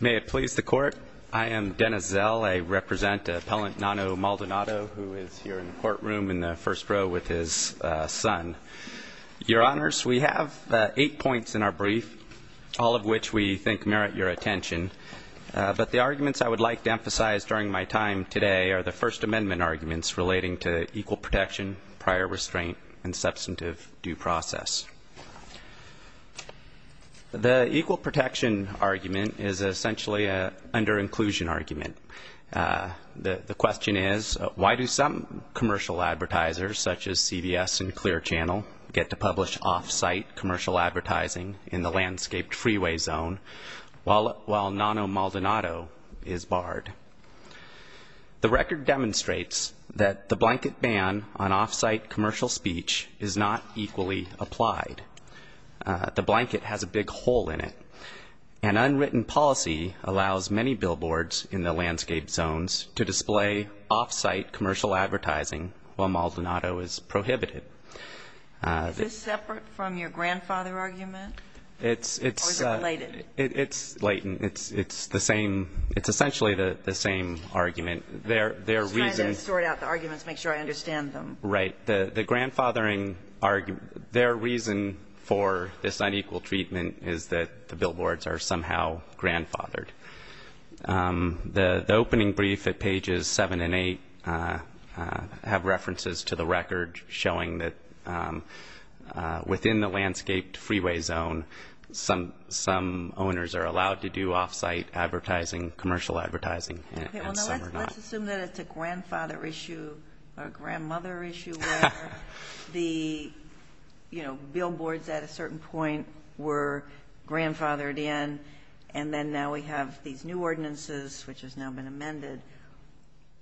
May it please the Court, I am Dennis Zell. I represent Appellant Nanno Maldonado, who is here in the courtroom in the first row with his son. Your Honors, we have eight points in our brief, all of which we think merit your attention. But the arguments I would like to emphasize during my time today are the First Amendment arguments relating to equal protection, prior restraint, and substantive due process. The equal protection argument is essentially an under-inclusion argument. The question is, why do some commercial advertisers, such as CBS and Clear Channel, get to publish off-site commercial advertising in the landscaped freeway zone while Nanno Maldonado is barred? The record demonstrates that the blanket ban on off-site commercial speech is not equally applied. The blanket has a big hole in it. An unwritten policy allows many billboards in the landscaped zones to display off-site commercial advertising while Maldonado is prohibited. Is this separate from your grandfather argument, or is it related? It's latent. It's the same. It's essentially the same argument. I'm just trying to sort out the arguments, make sure I understand them. Right. The grandfathering argument, their reason for this unequal treatment is that the billboards are somehow grandfathered. The opening brief at pages 7 and 8 have references to the record showing that within the landscaped freeway zone, some owners are allowed to do off-site advertising, commercial advertising, and some are not. Let's assume that it's a grandfather issue or grandmother issue where the billboards at a certain point were grandfathered in, and then now we have these new ordinances, which has now been amended.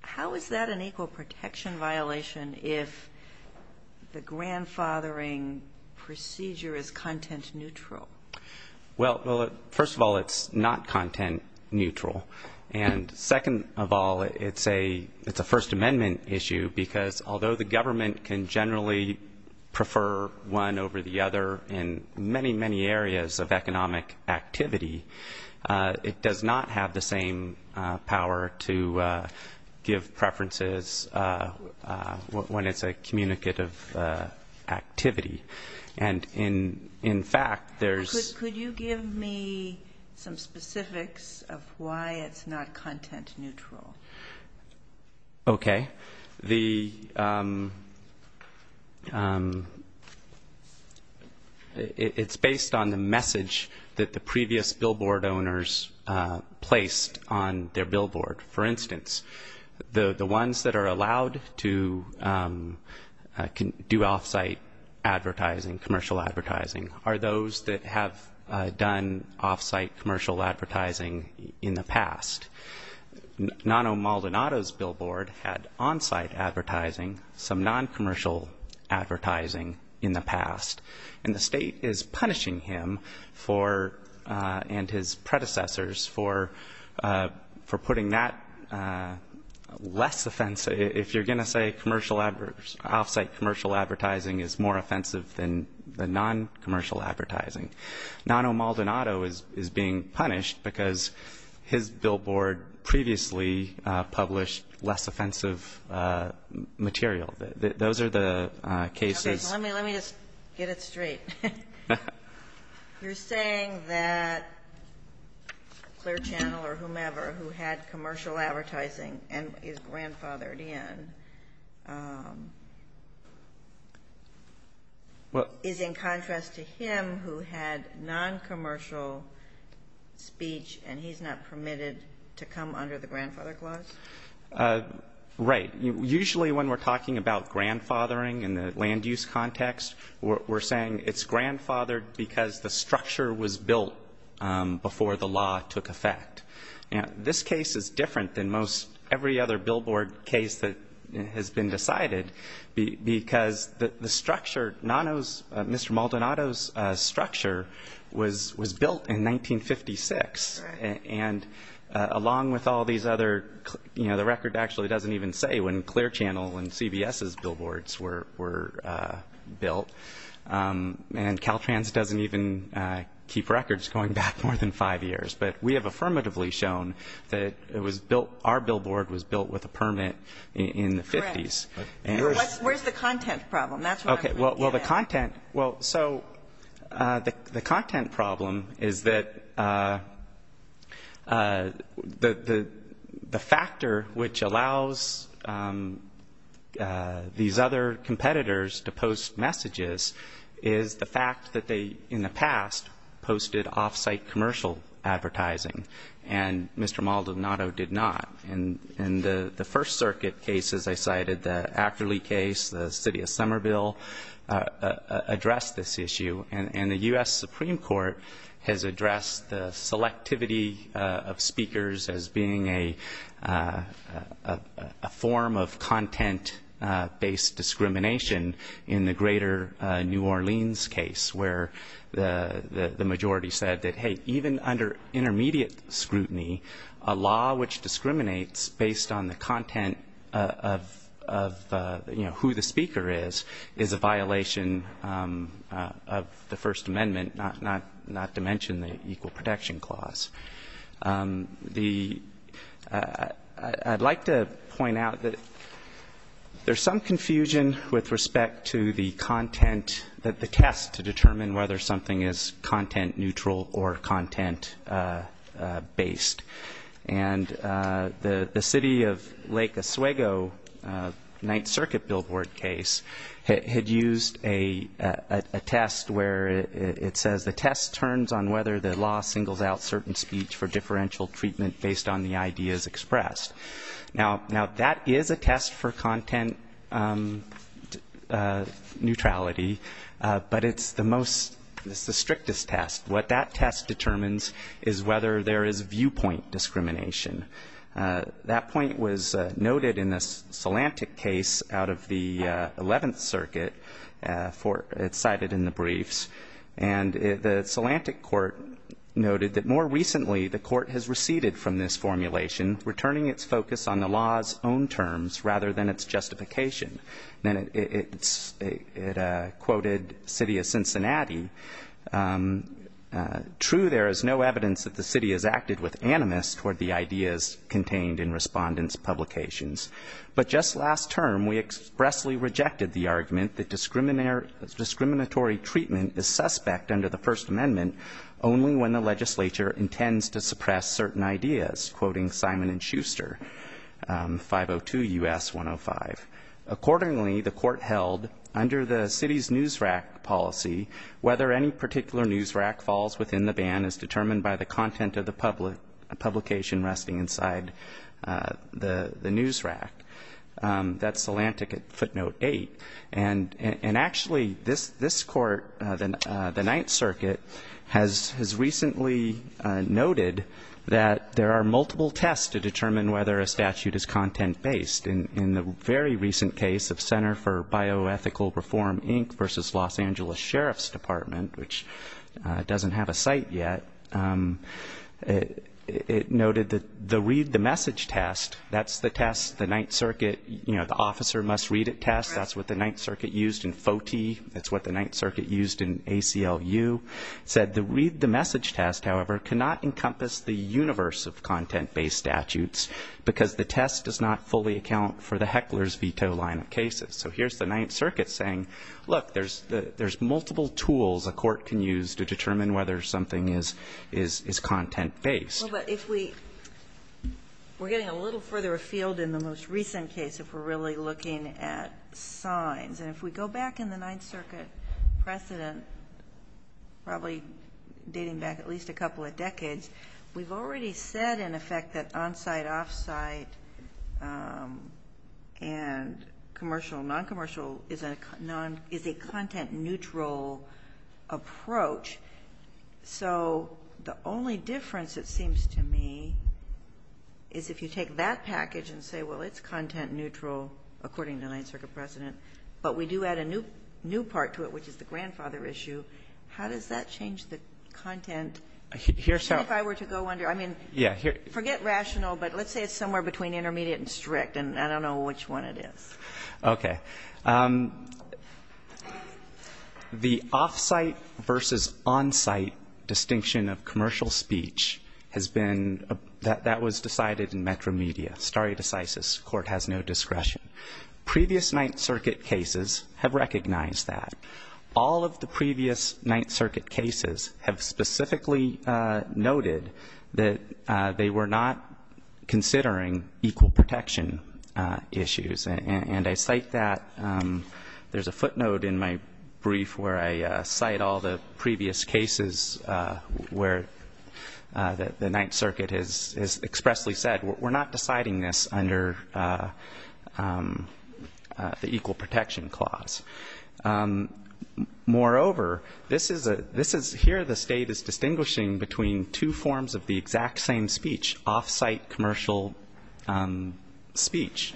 How is that an equal protection violation if the grandfathering procedure is content neutral? Well, first of all, it's not content neutral. And second of all, it's a First Amendment issue because although the government can generally prefer one over the other in many, many areas of economic activity, it does not have the same power to give preferences when it's a communicative activity. And in fact, there's- Could you give me some specifics of why it's not content neutral? Okay. It's based on the message that the previous billboard owners placed on their billboard. For instance, the ones that are allowed to do off-site advertising, commercial advertising, are those that have done off-site commercial advertising in the past. Nono Maldonado's billboard had on-site advertising, some non-commercial advertising in the past, and the state is punishing him and his predecessors for putting that less offensive. If you're going to say off-site commercial advertising is more offensive than the non-commercial advertising, Nono Maldonado is being punished because his billboard previously published less offensive material. Those are the cases- Let me just get it straight. You're saying that Clear Channel or whomever who had commercial advertising and is grandfathered in is in contrast to him who had non-commercial speech and he's not permitted to come under the grandfather clause? Right. Usually when we're talking about grandfathering in the land use context, we're saying it's grandfathered because the structure was built before the law took effect. This case is different than every other billboard case that has been decided because Mr. Maldonado's structure was built in 1956, and along with all these other-the record actually doesn't even say when Clear Channel and CBS's billboards were built, and Caltrans doesn't even keep records going back more than five years. But we have affirmatively shown that it was built-our billboard was built with a permit in the 50s. Correct. Where's the content problem? That's what I'm trying to get at. Okay. Well, the content-well, so the content problem is that the factor which allows these other competitors to post messages is the fact that they in the past posted off-site commercial advertising, and Mr. Maldonado did not. In the First Circuit cases I cited, the Ackerley case, the City of Somerville addressed this issue, and the U.S. Supreme Court has addressed the selectivity of speakers as being a form of content-based discrimination in the greater New Orleans case where the majority said that, hey, even under intermediate scrutiny, a law which discriminates based on the content of, you know, who the speaker is, is a violation of the First Amendment, not to mention the Equal Protection Clause. The-I'd like to point out that there's some confusion with respect to the content, to determine whether something is content-neutral or content-based. And the City of Lake Oswego Ninth Circuit billboard case had used a test where it says, the test turns on whether the law singles out certain speech for differential treatment based on the ideas expressed. Now, that is a test for content neutrality, but it's the most-it's the strictest test. What that test determines is whether there is viewpoint discrimination. That point was noted in the Salantic case out of the Eleventh Circuit for-it's cited in the briefs. And the Salantic court noted that, more recently, the court has receded from this formulation, returning its focus on the law's own terms rather than its justification. Then it quoted City of Cincinnati. True, there is no evidence that the city has acted with animus toward the ideas contained in respondents' publications. But just last term, we expressly rejected the argument that discriminatory treatment is suspect under the First Amendment only when the legislature intends to suppress certain ideas, quoting Simon and Schuster, 502 U.S. 105. Accordingly, the court held, under the city's news rack policy, whether any particular news rack falls within the ban is determined by the content of the publication resting inside the news rack. That's Salantic at footnote eight. And actually, this court, the Ninth Circuit, has recently noted that there are multiple tests to determine whether a statute is content-based. In the very recent case of Center for Bioethical Reform Inc. versus Los Angeles Sheriff's Department, which doesn't have a site yet, it noted that the read-the-message test, that's the test the Ninth Circuit, the officer-must-read-it test, that's what the Ninth Circuit used in FOTE, that's what the Ninth Circuit used in ACLU, said the read-the-message test, however, cannot encompass the universe of content-based statutes because the test does not fully account for the heckler's veto line of cases. So here's the Ninth Circuit saying, look, there's multiple tools a court can use to determine whether something is content-based. Well, but if we're getting a little further afield in the most recent case, if we're really looking at signs, and if we go back in the Ninth Circuit precedent, probably dating back at least a couple of decades, we've already said, in effect, that on-site, off-site and commercial, non-commercial is a content-neutral approach. So the only difference, it seems to me, is if you take that package and say, well, it's content-neutral, according to the Ninth Circuit precedent, but we do add a new part to it, which is the grandfather issue, how does that change the content? If I were to go under, I mean, forget rational, but let's say it's somewhere between intermediate and strict, and I don't know which one it is. Okay. The off-site versus on-site distinction of commercial speech has been, that was decided in metromedia, stare decisis, court has no discretion. Previous Ninth Circuit cases have recognized that. All of the previous Ninth Circuit cases have specifically noted that they were not considering equal protection issues, and I cite that. There's a footnote in my brief where I cite all the previous cases where the Ninth Circuit has expressly said, we're not deciding this under the equal protection clause. Moreover, this is here the State is distinguishing between two forms of the exact same speech, off-site commercial speech.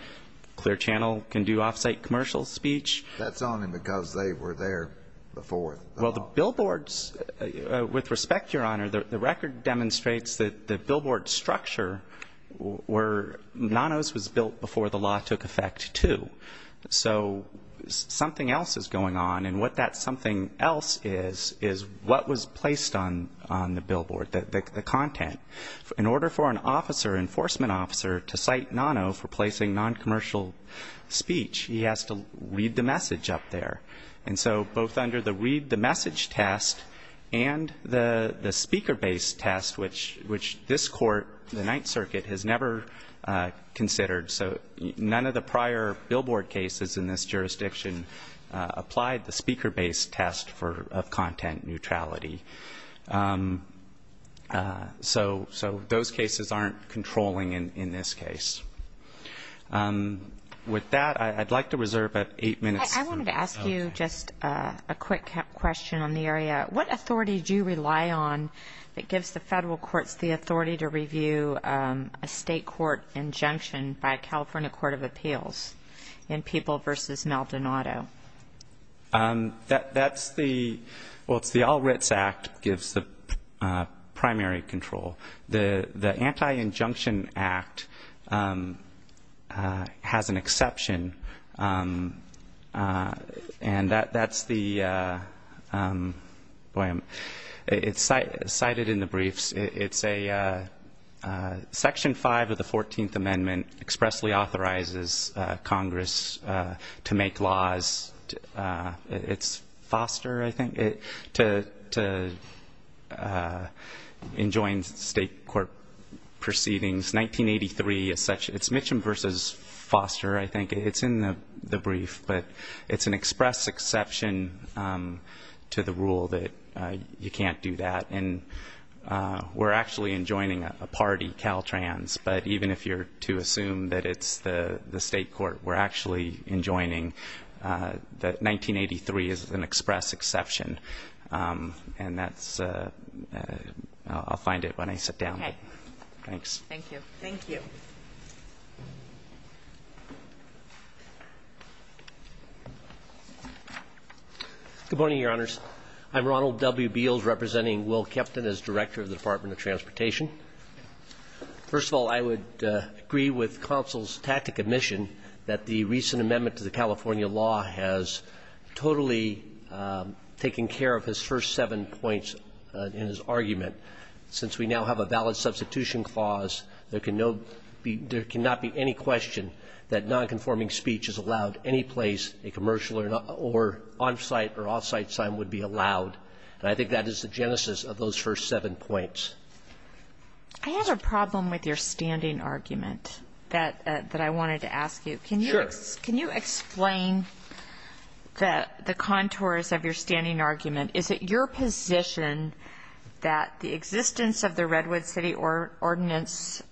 Clear Channel can do off-site commercial speech. That's only because they were there before. Well, the billboards, with respect, Your Honor, the record demonstrates that the billboard structure were, Nono's was built before the law took effect, too. So something else is going on, and what that something else is, is what was placed on the billboard, the content. In order for an officer, enforcement officer, to cite Nono for placing noncommercial speech, he has to read the message up there. And so both under the read the message test and the speaker-based test, which this Court, the Ninth Circuit, has never considered. So none of the prior billboard cases in this jurisdiction applied the speaker-based test of content neutrality. So those cases aren't controlling in this case. With that, I'd like to reserve about eight minutes. I wanted to ask you just a quick question on the area. What authority do you rely on that gives the federal courts the authority to review a state court injunction by a California court of appeals in People v. Maldonado? That's the, well, it's the All Writs Act gives the primary control. The Anti-Injunction Act has an exception, and that's the, boy, it's cited in the briefs. It's a Section 5 of the 14th Amendment expressly authorizes Congress to make laws. It's Foster, I think, to enjoin state court proceedings. 1983, it's Mitchum v. Foster, I think. It's in the brief, but it's an express exception to the rule that you can't do that. And we're actually enjoining a party, Caltrans, but even if you're to assume that it's the state court, we're actually enjoining that 1983 is an express exception. And that's, I'll find it when I sit down. Okay. Thanks. Thank you. Thank you. Good morning, Your Honors. I'm Ronald W. Beals, representing Will Kepton as Director of the Department of Transportation. First of all, I would agree with counsel's tactic admission that the recent amendment to the California law has totally taken care of his first seven points in his argument. Since we now have a valid substitution clause, there can no be – there cannot be any question that nonconforming speech is allowed any place a commercial or on-site or off-site sign would be allowed. And I think that is the genesis of those first seven points. I have a problem with your standing argument that I wanted to ask you. Sure. Can you explain the contours of your standing argument? Is it your position that the existence of the Redwood City Ordinance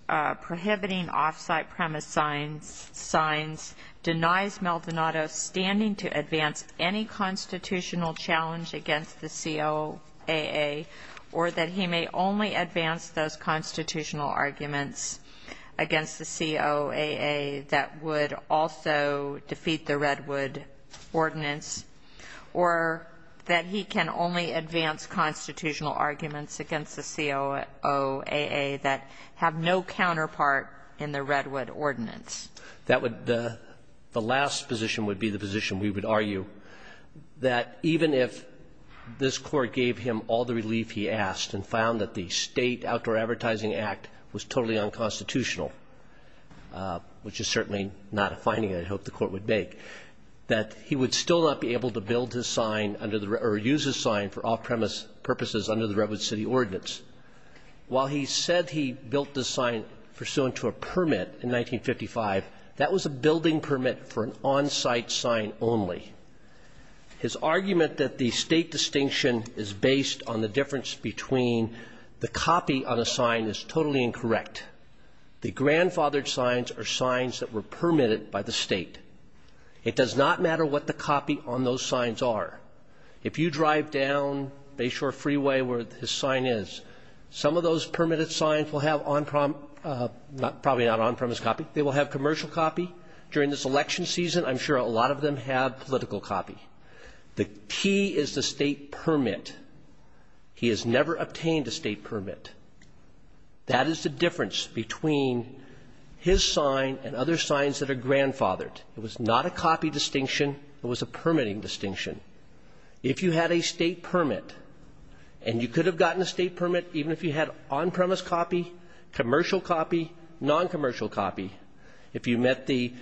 prohibiting off-site premise signs denies Maldonado's standing to advance any constitutional challenge against the COAA, or that he may only advance those constitutional arguments against the COAA that would also defeat the Redwood Ordinance, or that he can only advance constitutional arguments against the COAA that have no counterpart in the Redwood Ordinance? That would – the last position would be the position, we would argue, that even if this Court gave him all the relief he asked and found that the State Outdoor Advertising Act was totally unconstitutional, which is certainly not a finding I'd hope the Court would make, that he would still not be able to build his sign under the – or use his sign for off-premise purposes under the Redwood City Ordinance. While he said he built the sign pursuant to a permit in 1955, that was a building permit for an on-site sign only. His argument that the State distinction is based on the difference between the copy on a sign is totally incorrect. The grandfathered signs are signs that were permitted by the State. It does not matter what the copy on those signs are. If you drive down Bayshore Freeway where his sign is, some of those permitted signs will have on-prem – probably not on-premise copy. They will have commercial copy. During this election season, I'm sure a lot of them have political copy. The key is the State permit. He has never obtained a State permit. That is the difference between his sign and other signs that are grandfathered. It was not a copy distinction. It was a permitting distinction. If you had a State permit, and you could have gotten a State permit even if you had on-premise copy, commercial copy, non-commercial copy, if you met the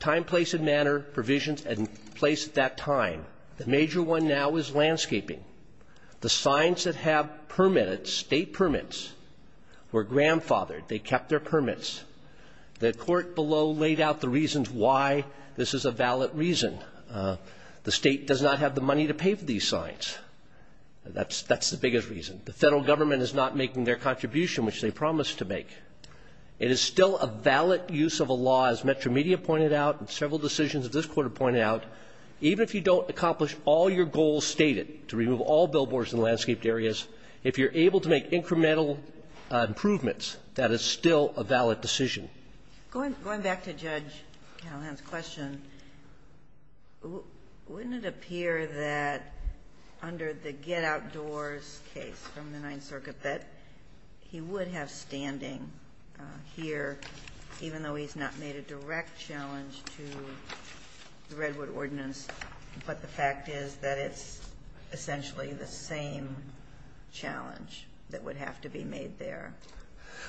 time, place, and manner provisions in place at that time, the major one now is landscaping. The signs that have permitted State permits were grandfathered. They kept their permits. The Court below laid out the reasons why this is a valid reason. The State does not have the money to pay for these signs. That's the biggest reason. The Federal Government is not making their contribution, which they promised to make. It is still a valid use of a law, as Metro Media pointed out and several decisions of this Court have pointed out, even if you don't accomplish all your goals stated to remove all billboards in landscaped areas, if you're able to make incremental improvements, that is still a valid decision. Ginsburg. Going back to Judge Callahan's question, wouldn't it appear that under the Get Outdoors case from the Ninth Circuit that he would have standing here, even though he's not made a direct challenge to the Redwood ordinance, but the fact is that it's essentially the same challenge that would have to be made there?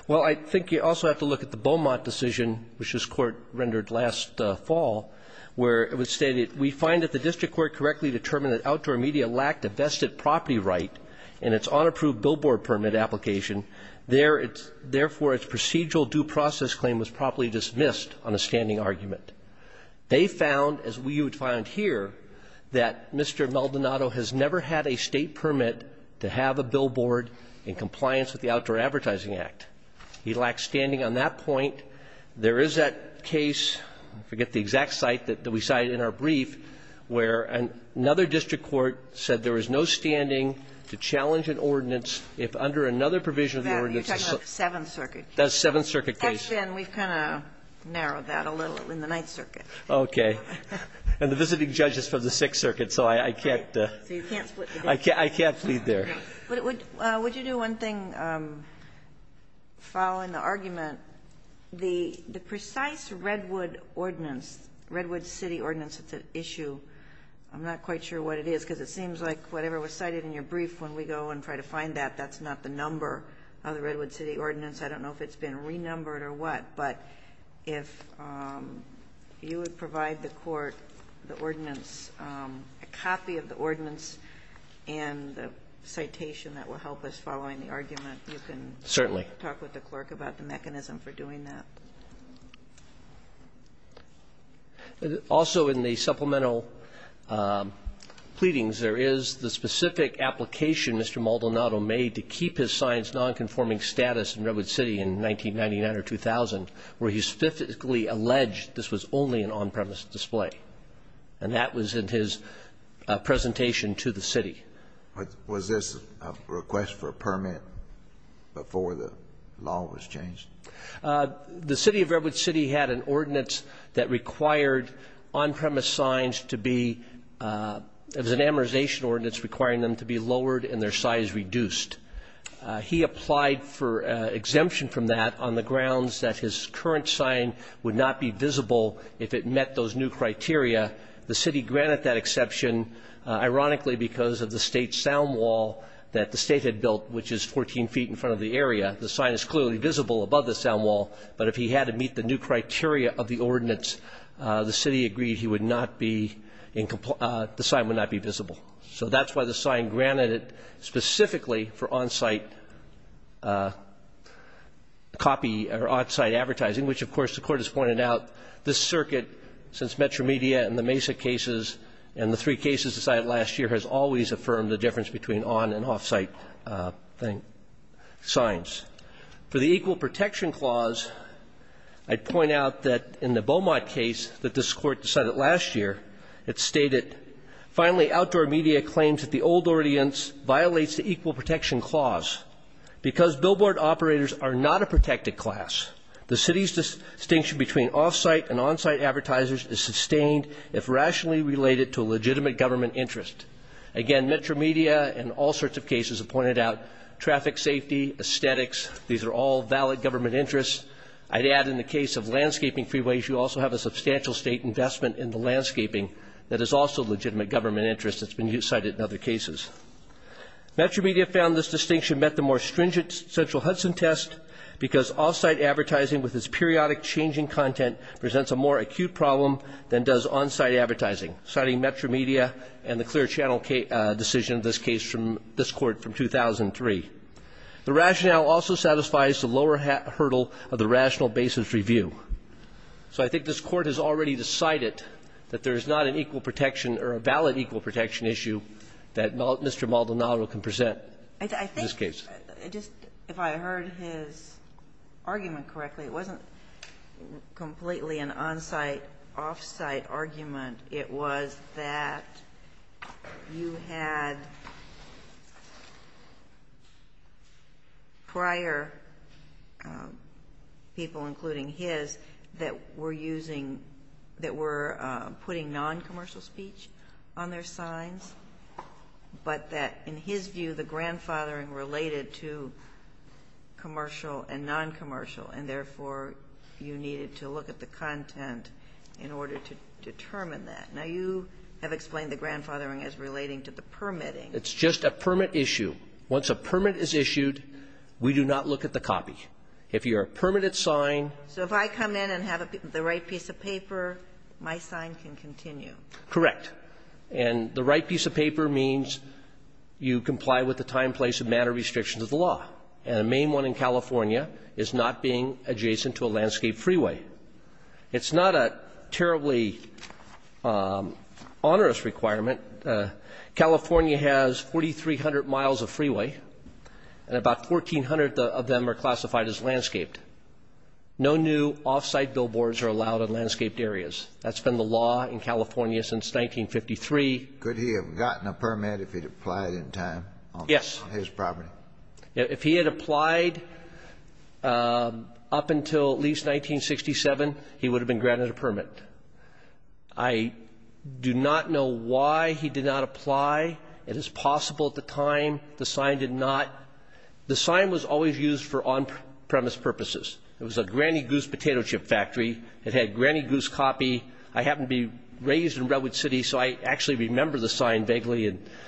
Well, I think you also have to look at the Beaumont decision, which this Court rendered last fall, where it stated, We find that the District Court correctly determined that Outdoor Media lacked a vested property right in its unapproved billboard permit application. Therefore, its procedural due process claim was properly dismissed on a standing argument. They found, as you would find here, that Mr. Maldonado has never had a State permit to have a billboard in compliance with the Outdoor Advertising Act. He lacked standing on that point. There is that case, I forget the exact site that we cited in our brief, where another district court said there was no standing to challenge an ordinance if under another provision of the ordinance. That's the Seventh Circuit case. Actually, we've kind of narrowed that a little in the Ninth Circuit. Okay. And the visiting judge is from the Sixth Circuit, so I can't. So you can't split the case. I can't plead there. Would you do one thing following the argument? The precise Redwood ordinance, Redwood City ordinance that's at issue, I'm not quite sure what it is, because it seems like whatever was cited in your brief when we go and try to find that, that's not the number of the Redwood City ordinance. I don't know if it's been renumbered or what, but if you would provide the court the ordinance, a copy of the ordinance and the citation that will help us following the argument, you can talk with the clerk about the mechanism for doing that. Certainly. Also in the supplemental pleadings, there is the specific application Mr. Maldonado made to keep his signs nonconforming status in Redwood City in 1999 or 2000, where he specifically alleged this was only an on-premise display. And that was in his presentation to the city. Was this a request for a permit before the law was changed? The City of Redwood City had an ordinance that required on-premise signs to be an amortization ordinance requiring them to be lowered and their size reduced. He applied for exemption from that on the grounds that his current sign would not be visible if it met those new criteria. The city granted that exception, ironically, because of the state sound wall that the state had built, which is 14 feet in front of the area. The sign is clearly visible above the sound wall, but if he had to meet the new So that's why the sign granted it specifically for on-site copy or off-site advertising, which, of course, the Court has pointed out, this circuit, since Metromedia and the Mesa cases and the three cases decided last year, has always affirmed the difference between on- and off-site signs. For the Equal Protection Clause, I'd point out that in the Beaumont case that this claims that the old ordinance violates the Equal Protection Clause. Because billboard operators are not a protected class, the city's distinction between off-site and on-site advertisers is sustained if rationally related to a legitimate government interest. Again, Metromedia and all sorts of cases have pointed out traffic safety, aesthetics. These are all valid government interests. I'd add in the case of landscaping freeways, you also have a substantial state investment in the landscaping that is also a legitimate government interest that's been cited in other cases. Metromedia found this distinction met the more stringent central Hudson test because off-site advertising with its periodic changing content presents a more acute problem than does on-site advertising, citing Metromedia and the clear channel decision of this case from this Court from 2003. The rationale also satisfies the lower hurdle of the rational basis review. So I think this Court has already decided that there is not an equal protection or a valid equal protection issue that Mr. Maldonado can present in this case. I think just if I heard his argument correctly, it wasn't completely an on-site, off-site argument. It was that you had prior people, including his, that were using, that were putting non-commercial speech on their signs, but that in his view the grandfathering related to commercial and non-commercial and therefore you needed to look at the content in order to determine that. Now, you have explained the grandfathering as relating to the permitting. It's just a permit issue. Once a permit is issued, we do not look at the copy. If you're a permitted sign. So if I come in and have the right piece of paper, my sign can continue. Correct. And the right piece of paper means you comply with the time, place and matter restrictions of the law. And the main one in California is not being adjacent to a landscaped freeway. It's not a terribly onerous requirement. California has 4,300 miles of freeway, and about 1,400 of them are classified as landscaped. No new off-site billboards are allowed in landscaped areas. That's been the law in California since 1953. Could he have gotten a permit if he'd applied in time? Yes. On his property. If he had applied up until at least 1967, he would have been granted a permit. I do not know why he did not apply. It is possible at the time the sign did not. The sign was always used for on-premise purposes. It was a Granny Goose potato chip factory. It had Granny Goose copy. I happened to be raised in Redwood City, so I actually remember the sign vaguely.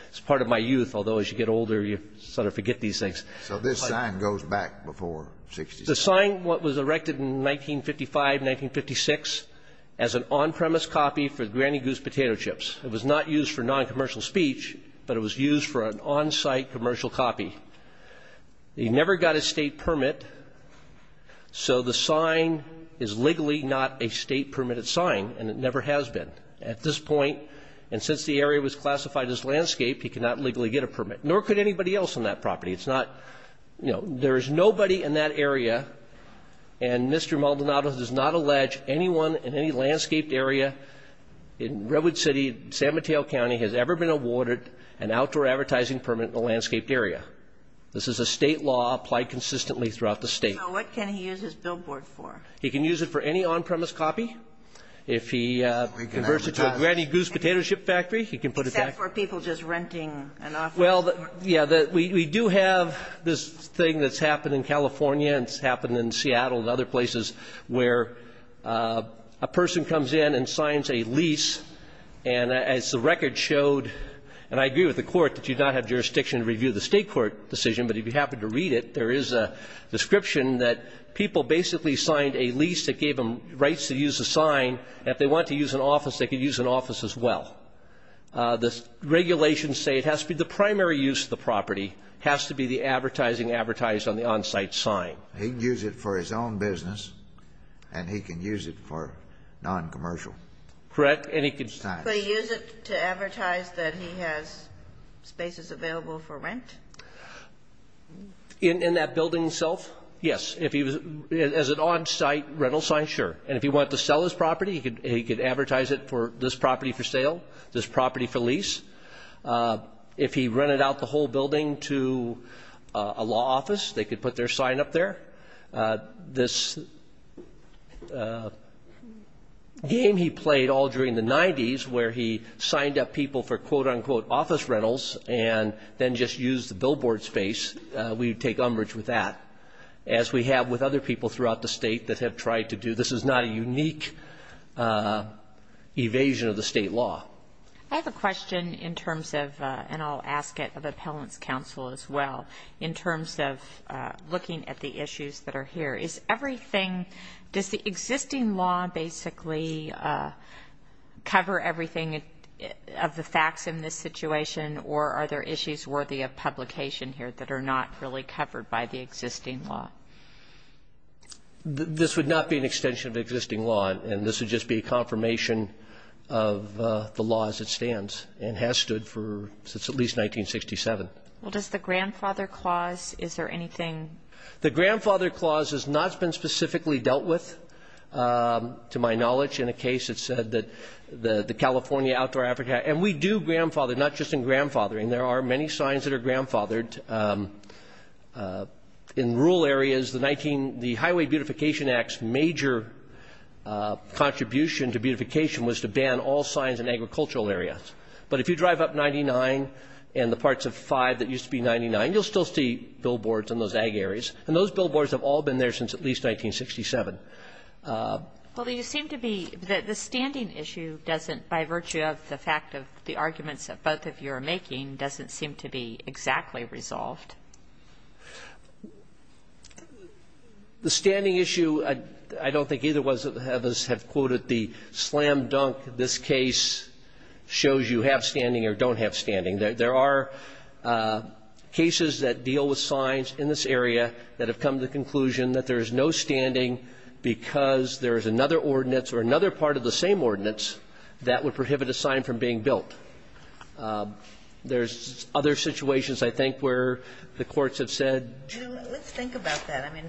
It's part of my youth, although as you get older, you sort of forget these things. So this sign goes back before 1967? The sign was erected in 1955, 1956, as an on-premise copy for Granny Goose potato chips. It was not used for noncommercial speech, but it was used for an on-site commercial copy. He never got a state permit, so the sign is legally not a state-permitted sign, and it never has been. At this point, and since the area was classified as landscape, he could not legally get a permit, nor could anybody else on that property. It's not, you know, there is nobody in that area, and Mr. Maldonado does not allege anyone in any landscaped area in Redwood City, San Mateo County has ever been awarded an outdoor advertising permit in a landscaped area. This is a state law applied consistently throughout the state. So what can he use his billboard for? He can use it for any on-premise copy. If he converts it to a Granny Goose potato chip factory, he can put it back. Except for people just renting an office. Well, yeah, we do have this thing that's happened in California and it's happened in Seattle and other places where a person comes in and signs a lease, and as the record showed, and I agree with the Court that you do not have jurisdiction to review the State court decision, but if you happen to read it, there is a description that people basically signed a lease that gave them rights to use a sign. If they want to use an office, they can use an office as well. The regulations say it has to be the primary use of the property has to be the advertising advertised on the on-site sign. He can use it for his own business, and he can use it for noncommercial. Correct. And he can use it to advertise that he has spaces available for rent? In that building itself? Yes. As an on-site rental sign, sure. And if he wanted to sell his property, he could advertise it for this property for sale, this property for lease. If he rented out the whole building to a law office, they could put their sign up there. This game he played all during the 90s where he signed up people for quote-unquote as we have with other people throughout the State that have tried to do this. This is not a unique evasion of the State law. I have a question in terms of, and I'll ask it of Appellant's counsel as well, in terms of looking at the issues that are here. Does the existing law basically cover everything of the facts in this situation, or are there issues worthy of publication here that are not really covered by the existing law? This would not be an extension of the existing law, and this would just be a confirmation of the law as it stands and has stood since at least 1967. Well, does the Grandfather Clause, is there anything? The Grandfather Clause has not been specifically dealt with, to my knowledge, in a case that said that the California Outdoor Africa, and we do grandfather, not just in grandfathering. There are many signs that are grandfathered. In rural areas, the Highway Beautification Act's major contribution to beautification was to ban all signs in agricultural areas. But if you drive up 99 and the parts of 5 that used to be 99, you'll still see billboards in those ag areas. And those billboards have all been there since at least 1967. Well, they just seem to be the standing issue doesn't, by virtue of the fact of the arguments that both of you are making, doesn't seem to be exactly resolved. The standing issue, I don't think either of us have quoted the slam dunk. This case shows you have standing or don't have standing. There are cases that deal with signs in this area that have come to the conclusion that there is no standing because there is another ordinance or another part of the same ordinance that would prohibit a sign from being built. There's other situations, I think, where the courts have said. Let's think about that. I mean,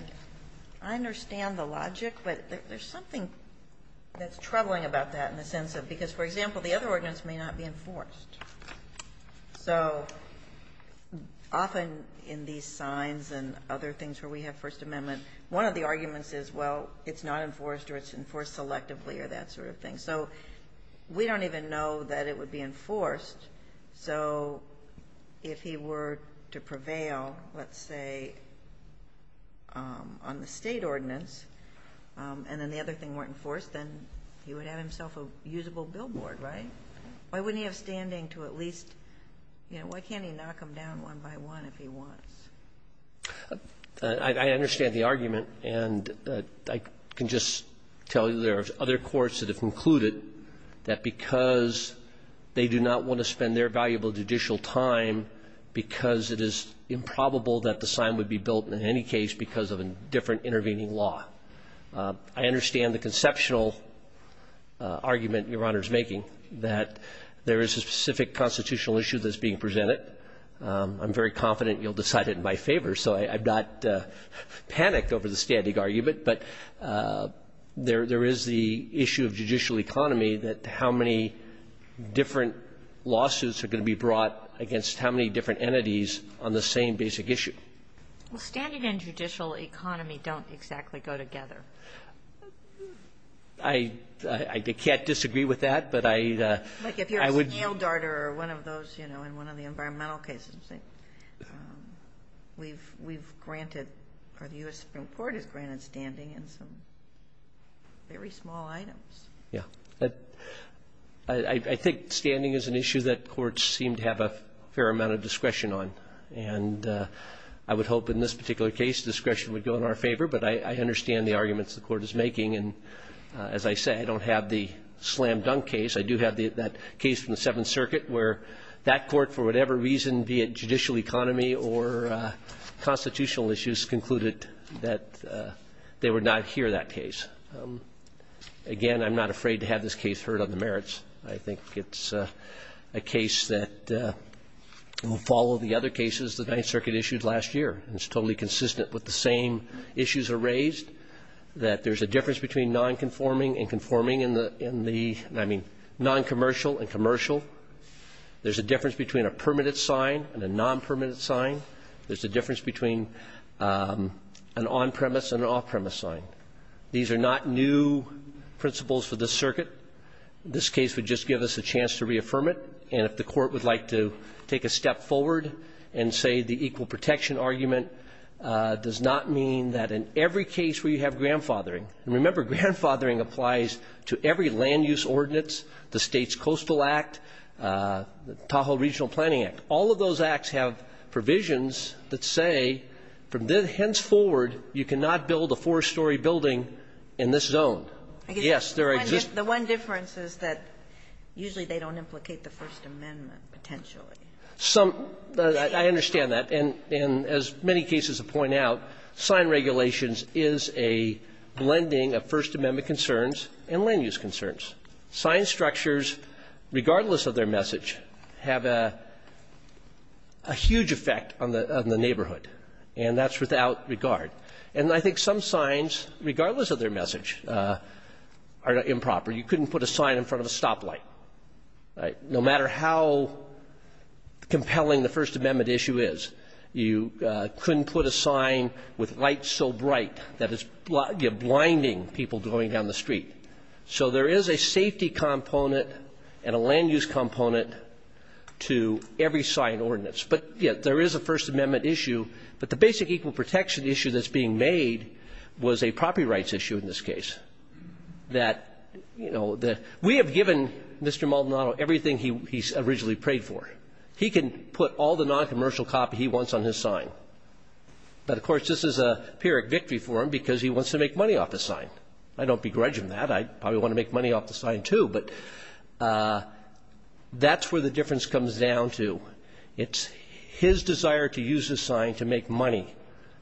I understand the logic, but there's something that's troubling about that in the sense of because, for example, the other ordinance may not be enforced. So often in these signs and other things where we have First Amendment, one of the arguments is, well, it's not enforced or it's enforced selectively or that sort of thing. So we don't even know that it would be enforced. So if he were to prevail, let's say, on the state ordinance, and then the other thing weren't enforced, then he would have himself a usable billboard, right? Why wouldn't he have standing to at least, you know, why can't he knock them down one by one if he wants? I understand the argument, and I can just tell you there are other courts that have concluded that because they do not want to spend their valuable judicial time because it is improbable that the sign would be built in any case because of a different intervening law. I understand the conceptual argument Your Honor is making, that there is a specific constitutional issue that's being presented. I'm very confident you'll decide it in my favor, so I've not panicked over the standing argument, but there is the issue of judicial economy that how many different lawsuits are going to be brought against how many different entities on the same basic issue. Well, standing and judicial economy don't exactly go together. I can't disagree with that, but I would. Like if you're a snail darter or one of those, you know, in one of the environmental cases, we've granted, or the U.S. Supreme Court has granted standing in some very small items. Yeah. I think standing is an issue that courts seem to have a fair amount of discretion on, and I would hope in this particular case discretion would go in our favor, but I understand the arguments the Court is making, and as I say, I don't have the slam dunk case. I do have that case from the Seventh Circuit where that court, for whatever reason, be it judicial economy or constitutional issues, concluded that they would not hear that case. Again, I'm not afraid to have this case heard on the merits. I think it's a case that will follow the other cases the Ninth Circuit issued last year. It's totally consistent with the same issues are raised, that there's a difference between nonconforming and conforming in the, I mean, noncommercial and commercial. There's a difference between a permitted sign and a nonpermitted sign. There's a difference between an on-premise and an off-premise sign. These are not new principles for this circuit. This case would just give us a chance to reaffirm it, and if the Court would like to take a step forward and say the equal protection argument does not mean that in every case where you have grandfathering, and remember, grandfathering applies to every land use ordinance, the States Coastal Act, the Tahoe Regional Planning Act. All of those acts have provisions that say from henceforward you cannot build a four-story building in this zone. Yes, there exists. The one difference is that usually they don't implicate the First Amendment, potentially. I understand that, and as many cases have pointed out, sign regulations is a blending of First Amendment concerns and land use concerns. Sign structures, regardless of their message, have a huge effect on the neighborhood, and that's without regard. And I think some signs, regardless of their message, are improper. You couldn't put a sign in front of a stoplight. No matter how compelling the First Amendment issue is, you couldn't put a sign with lights so bright that it's blinding people going down the street. So there is a safety component and a land use component to every sign ordinance. But, yes, there is a First Amendment issue, but the basic equal protection issue that's being made was a property rights issue in this case. We have given Mr. Maldonado everything he originally prayed for. He can put all the noncommercial copy he wants on his sign. But, of course, this is a pyrrhic victory for him because he wants to make money off the sign. I don't begrudge him that. I probably want to make money off the sign too. But that's where the difference comes down to. It's his desire to use his sign to make money,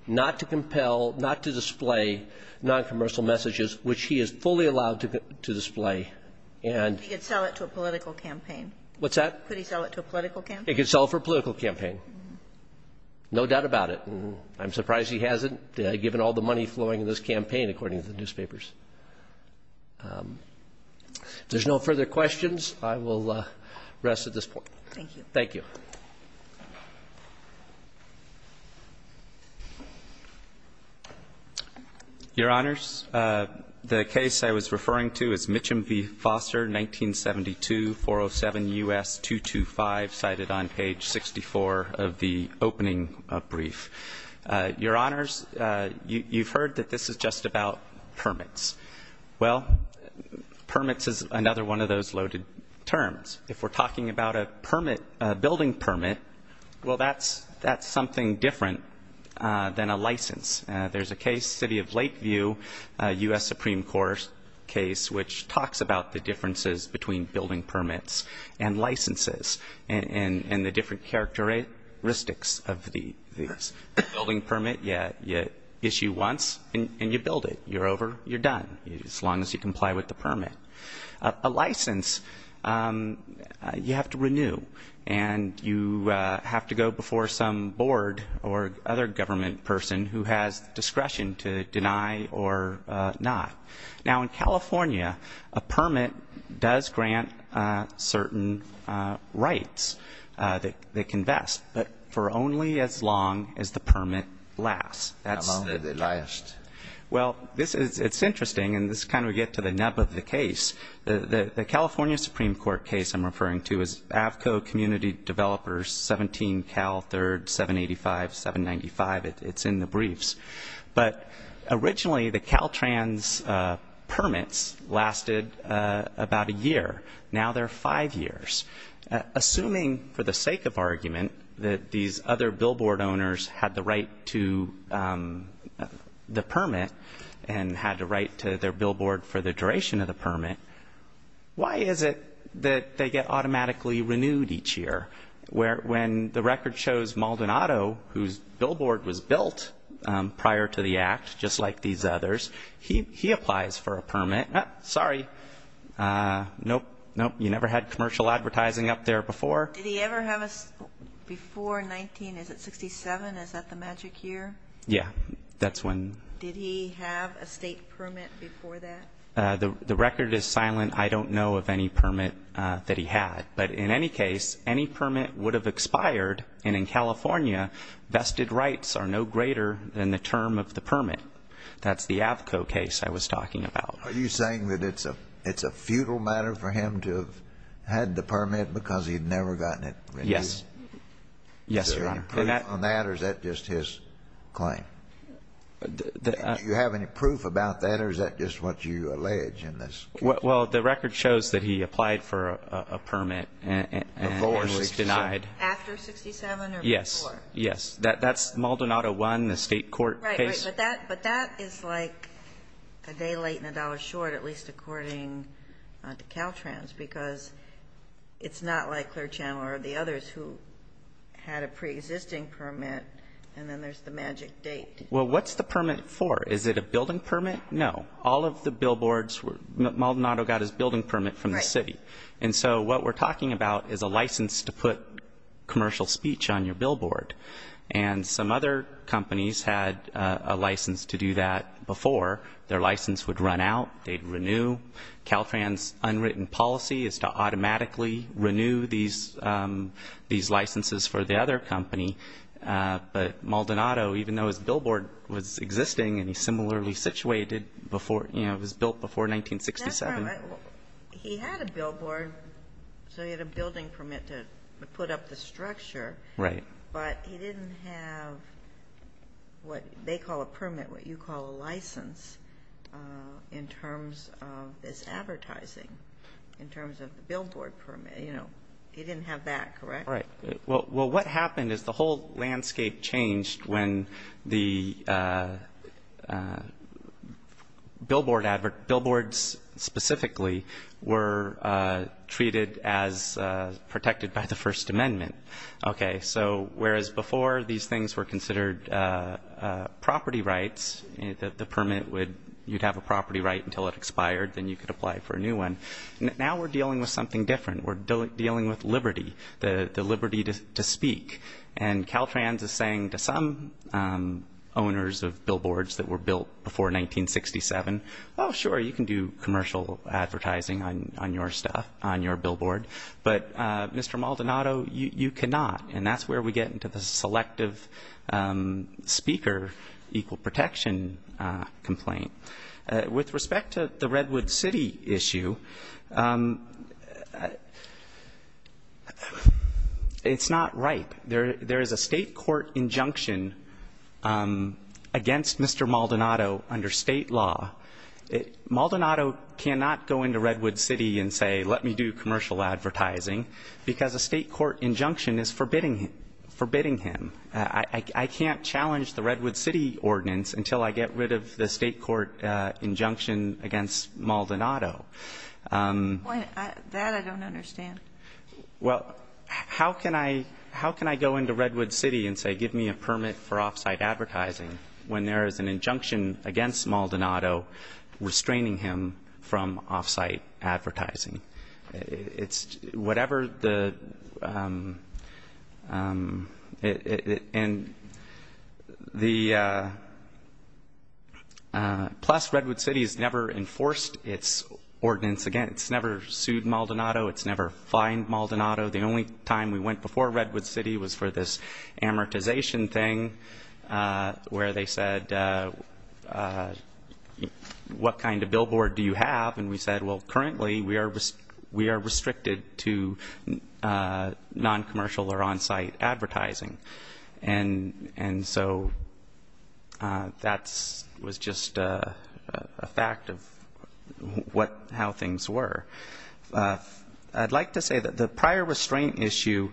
not to compel, not to display noncommercial messages, which he is fully allowed to display. He could sell it to a political campaign. What's that? Could he sell it to a political campaign? He could sell it for a political campaign. No doubt about it. I'm surprised he hasn't, given all the money flowing in this campaign, according to the newspapers. If there's no further questions, I will rest at this point. Thank you. Thank you. Your Honors, the case I was referring to is Mitcham v. Foster, 1972, 407 U.S. 225, cited on page 64 of the opening brief. Your Honors, you've heard that this is just about permits. Well, permits is another one of those loaded terms. If we're talking about a building permit, well, that's something different than a license. There's a case, City of Lakeview, U.S. Supreme Court case, which talks about the differences between building permits and licenses and the different characteristics of these. Building permit, you issue once and you build it. You're over, you're done, as long as you comply with the permit. A license, you have to renew, and you have to go before some board or other government person who has discretion to deny or not. Now, in California, a permit does grant certain rights that can vest, but for only as long as the permit lasts. How long did it last? Well, it's interesting, and this is kind of where we get to the nub of the case. The California Supreme Court case I'm referring to is Avco Community Developers, 17 Cal 3rd, 785, 795. It's in the briefs. But originally, the Caltrans permits lasted about a year. Now they're five years. Assuming for the sake of argument that these other billboard owners had the right to the permit and had the right to their billboard for the duration of the permit, why is it that they get automatically renewed each year? When the record shows Maldonado, whose billboard was built prior to the act, just like these others, he applies for a permit. Sorry. Nope, nope. You never had commercial advertising up there before. Did he ever have a before 19? Is it 67? Is that the magic year? Yeah, that's when. Did he have a state permit before that? The record is silent. I don't know of any permit that he had. But in any case, any permit would have expired, and in California vested rights are no greater than the term of the permit. That's the Avco case I was talking about. Are you saying that it's a futile matter for him to have had the permit because he had never gotten it renewed? Yes. Yes, Your Honor. Is there any proof on that, or is that just his claim? Do you have any proof about that, or is that just what you allege in this case? Well, the record shows that he applied for a permit and was denied. After 67 or before? Yes, yes. That's Maldonado 1, the state court case. Right, right. But that is like a day late and a dollar short, at least according to Caltrans, because it's not like Clare Chandler or the others who had a preexisting permit, and then there's the magic date. Well, what's the permit for? Is it a building permit? No. All of the billboards, Maldonado got his building permit from the city. And so what we're talking about is a license to put commercial speech on your billboard. And some other companies had a license to do that before. Their license would run out. They'd renew. Caltrans' unwritten policy is to automatically renew these licenses for the other company. But Maldonado, even though his billboard was existing and he's similarly situated before, you know, it was built before 1967. He had a billboard, so he had a building permit to put up the structure. Right. But he didn't have what they call a permit, what you call a license, in terms of this advertising, in terms of the billboard permit. You know, he didn't have that, correct? Right. Well, what happened is the whole landscape changed when the billboards specifically were treated as protected by the First Amendment. Okay. So whereas before these things were considered property rights, the permit would you'd have a property right until it expired, then you could apply for a new one. Now we're dealing with something different. We're dealing with liberty, the liberty to speak. And Caltrans is saying to some owners of billboards that were built before 1967, oh, sure, you can do commercial advertising on your stuff, on your billboard. But, Mr. Maldonado, you cannot. And that's where we get into the selective speaker equal protection complaint. With respect to the Redwood City issue, it's not right. There is a state court injunction against Mr. Maldonado under state law. Maldonado cannot go into Redwood City and say, let me do commercial advertising, because a state court injunction is forbidding him. I can't challenge the Redwood City ordinance until I get rid of the state court injunction against Maldonado. That I don't understand. Well, how can I go into Redwood City and say, give me a permit for off-site advertising, when there is an injunction against Maldonado restraining him from off-site advertising? Plus, Redwood City has never enforced its ordinance against, it's never sued Maldonado, it's never fined Maldonado. The only time we went before Redwood City was for this amortization thing, where they said, what kind of billboard do you have? And we said, well, currently we are restricted to non-commercial or on-site advertising. And so that was just a fact of how things were. I'd like to say that the prior restraint issue,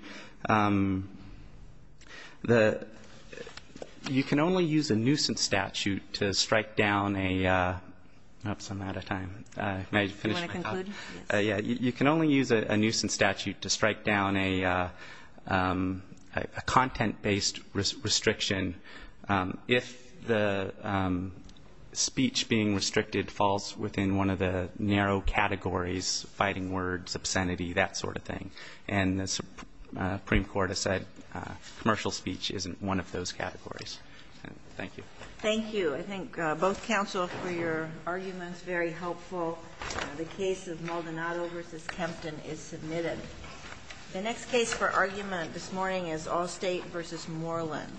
you can only use a nuisance statute to strike down a, oops, I'm out of time. May I finish my thought? Do you want to conclude? Yes. You can only use a nuisance statute to strike down a content-based restriction if the speech being restricted falls within one of the narrow categories, fighting words, obscenity, that sort of thing. And the Supreme Court has said commercial speech isn't one of those categories. Thank you. Thank you. I think both counsel for your arguments, very helpful. The case of Maldonado v. Kempton is submitted. The next case for argument this morning is Allstate v. Moreland.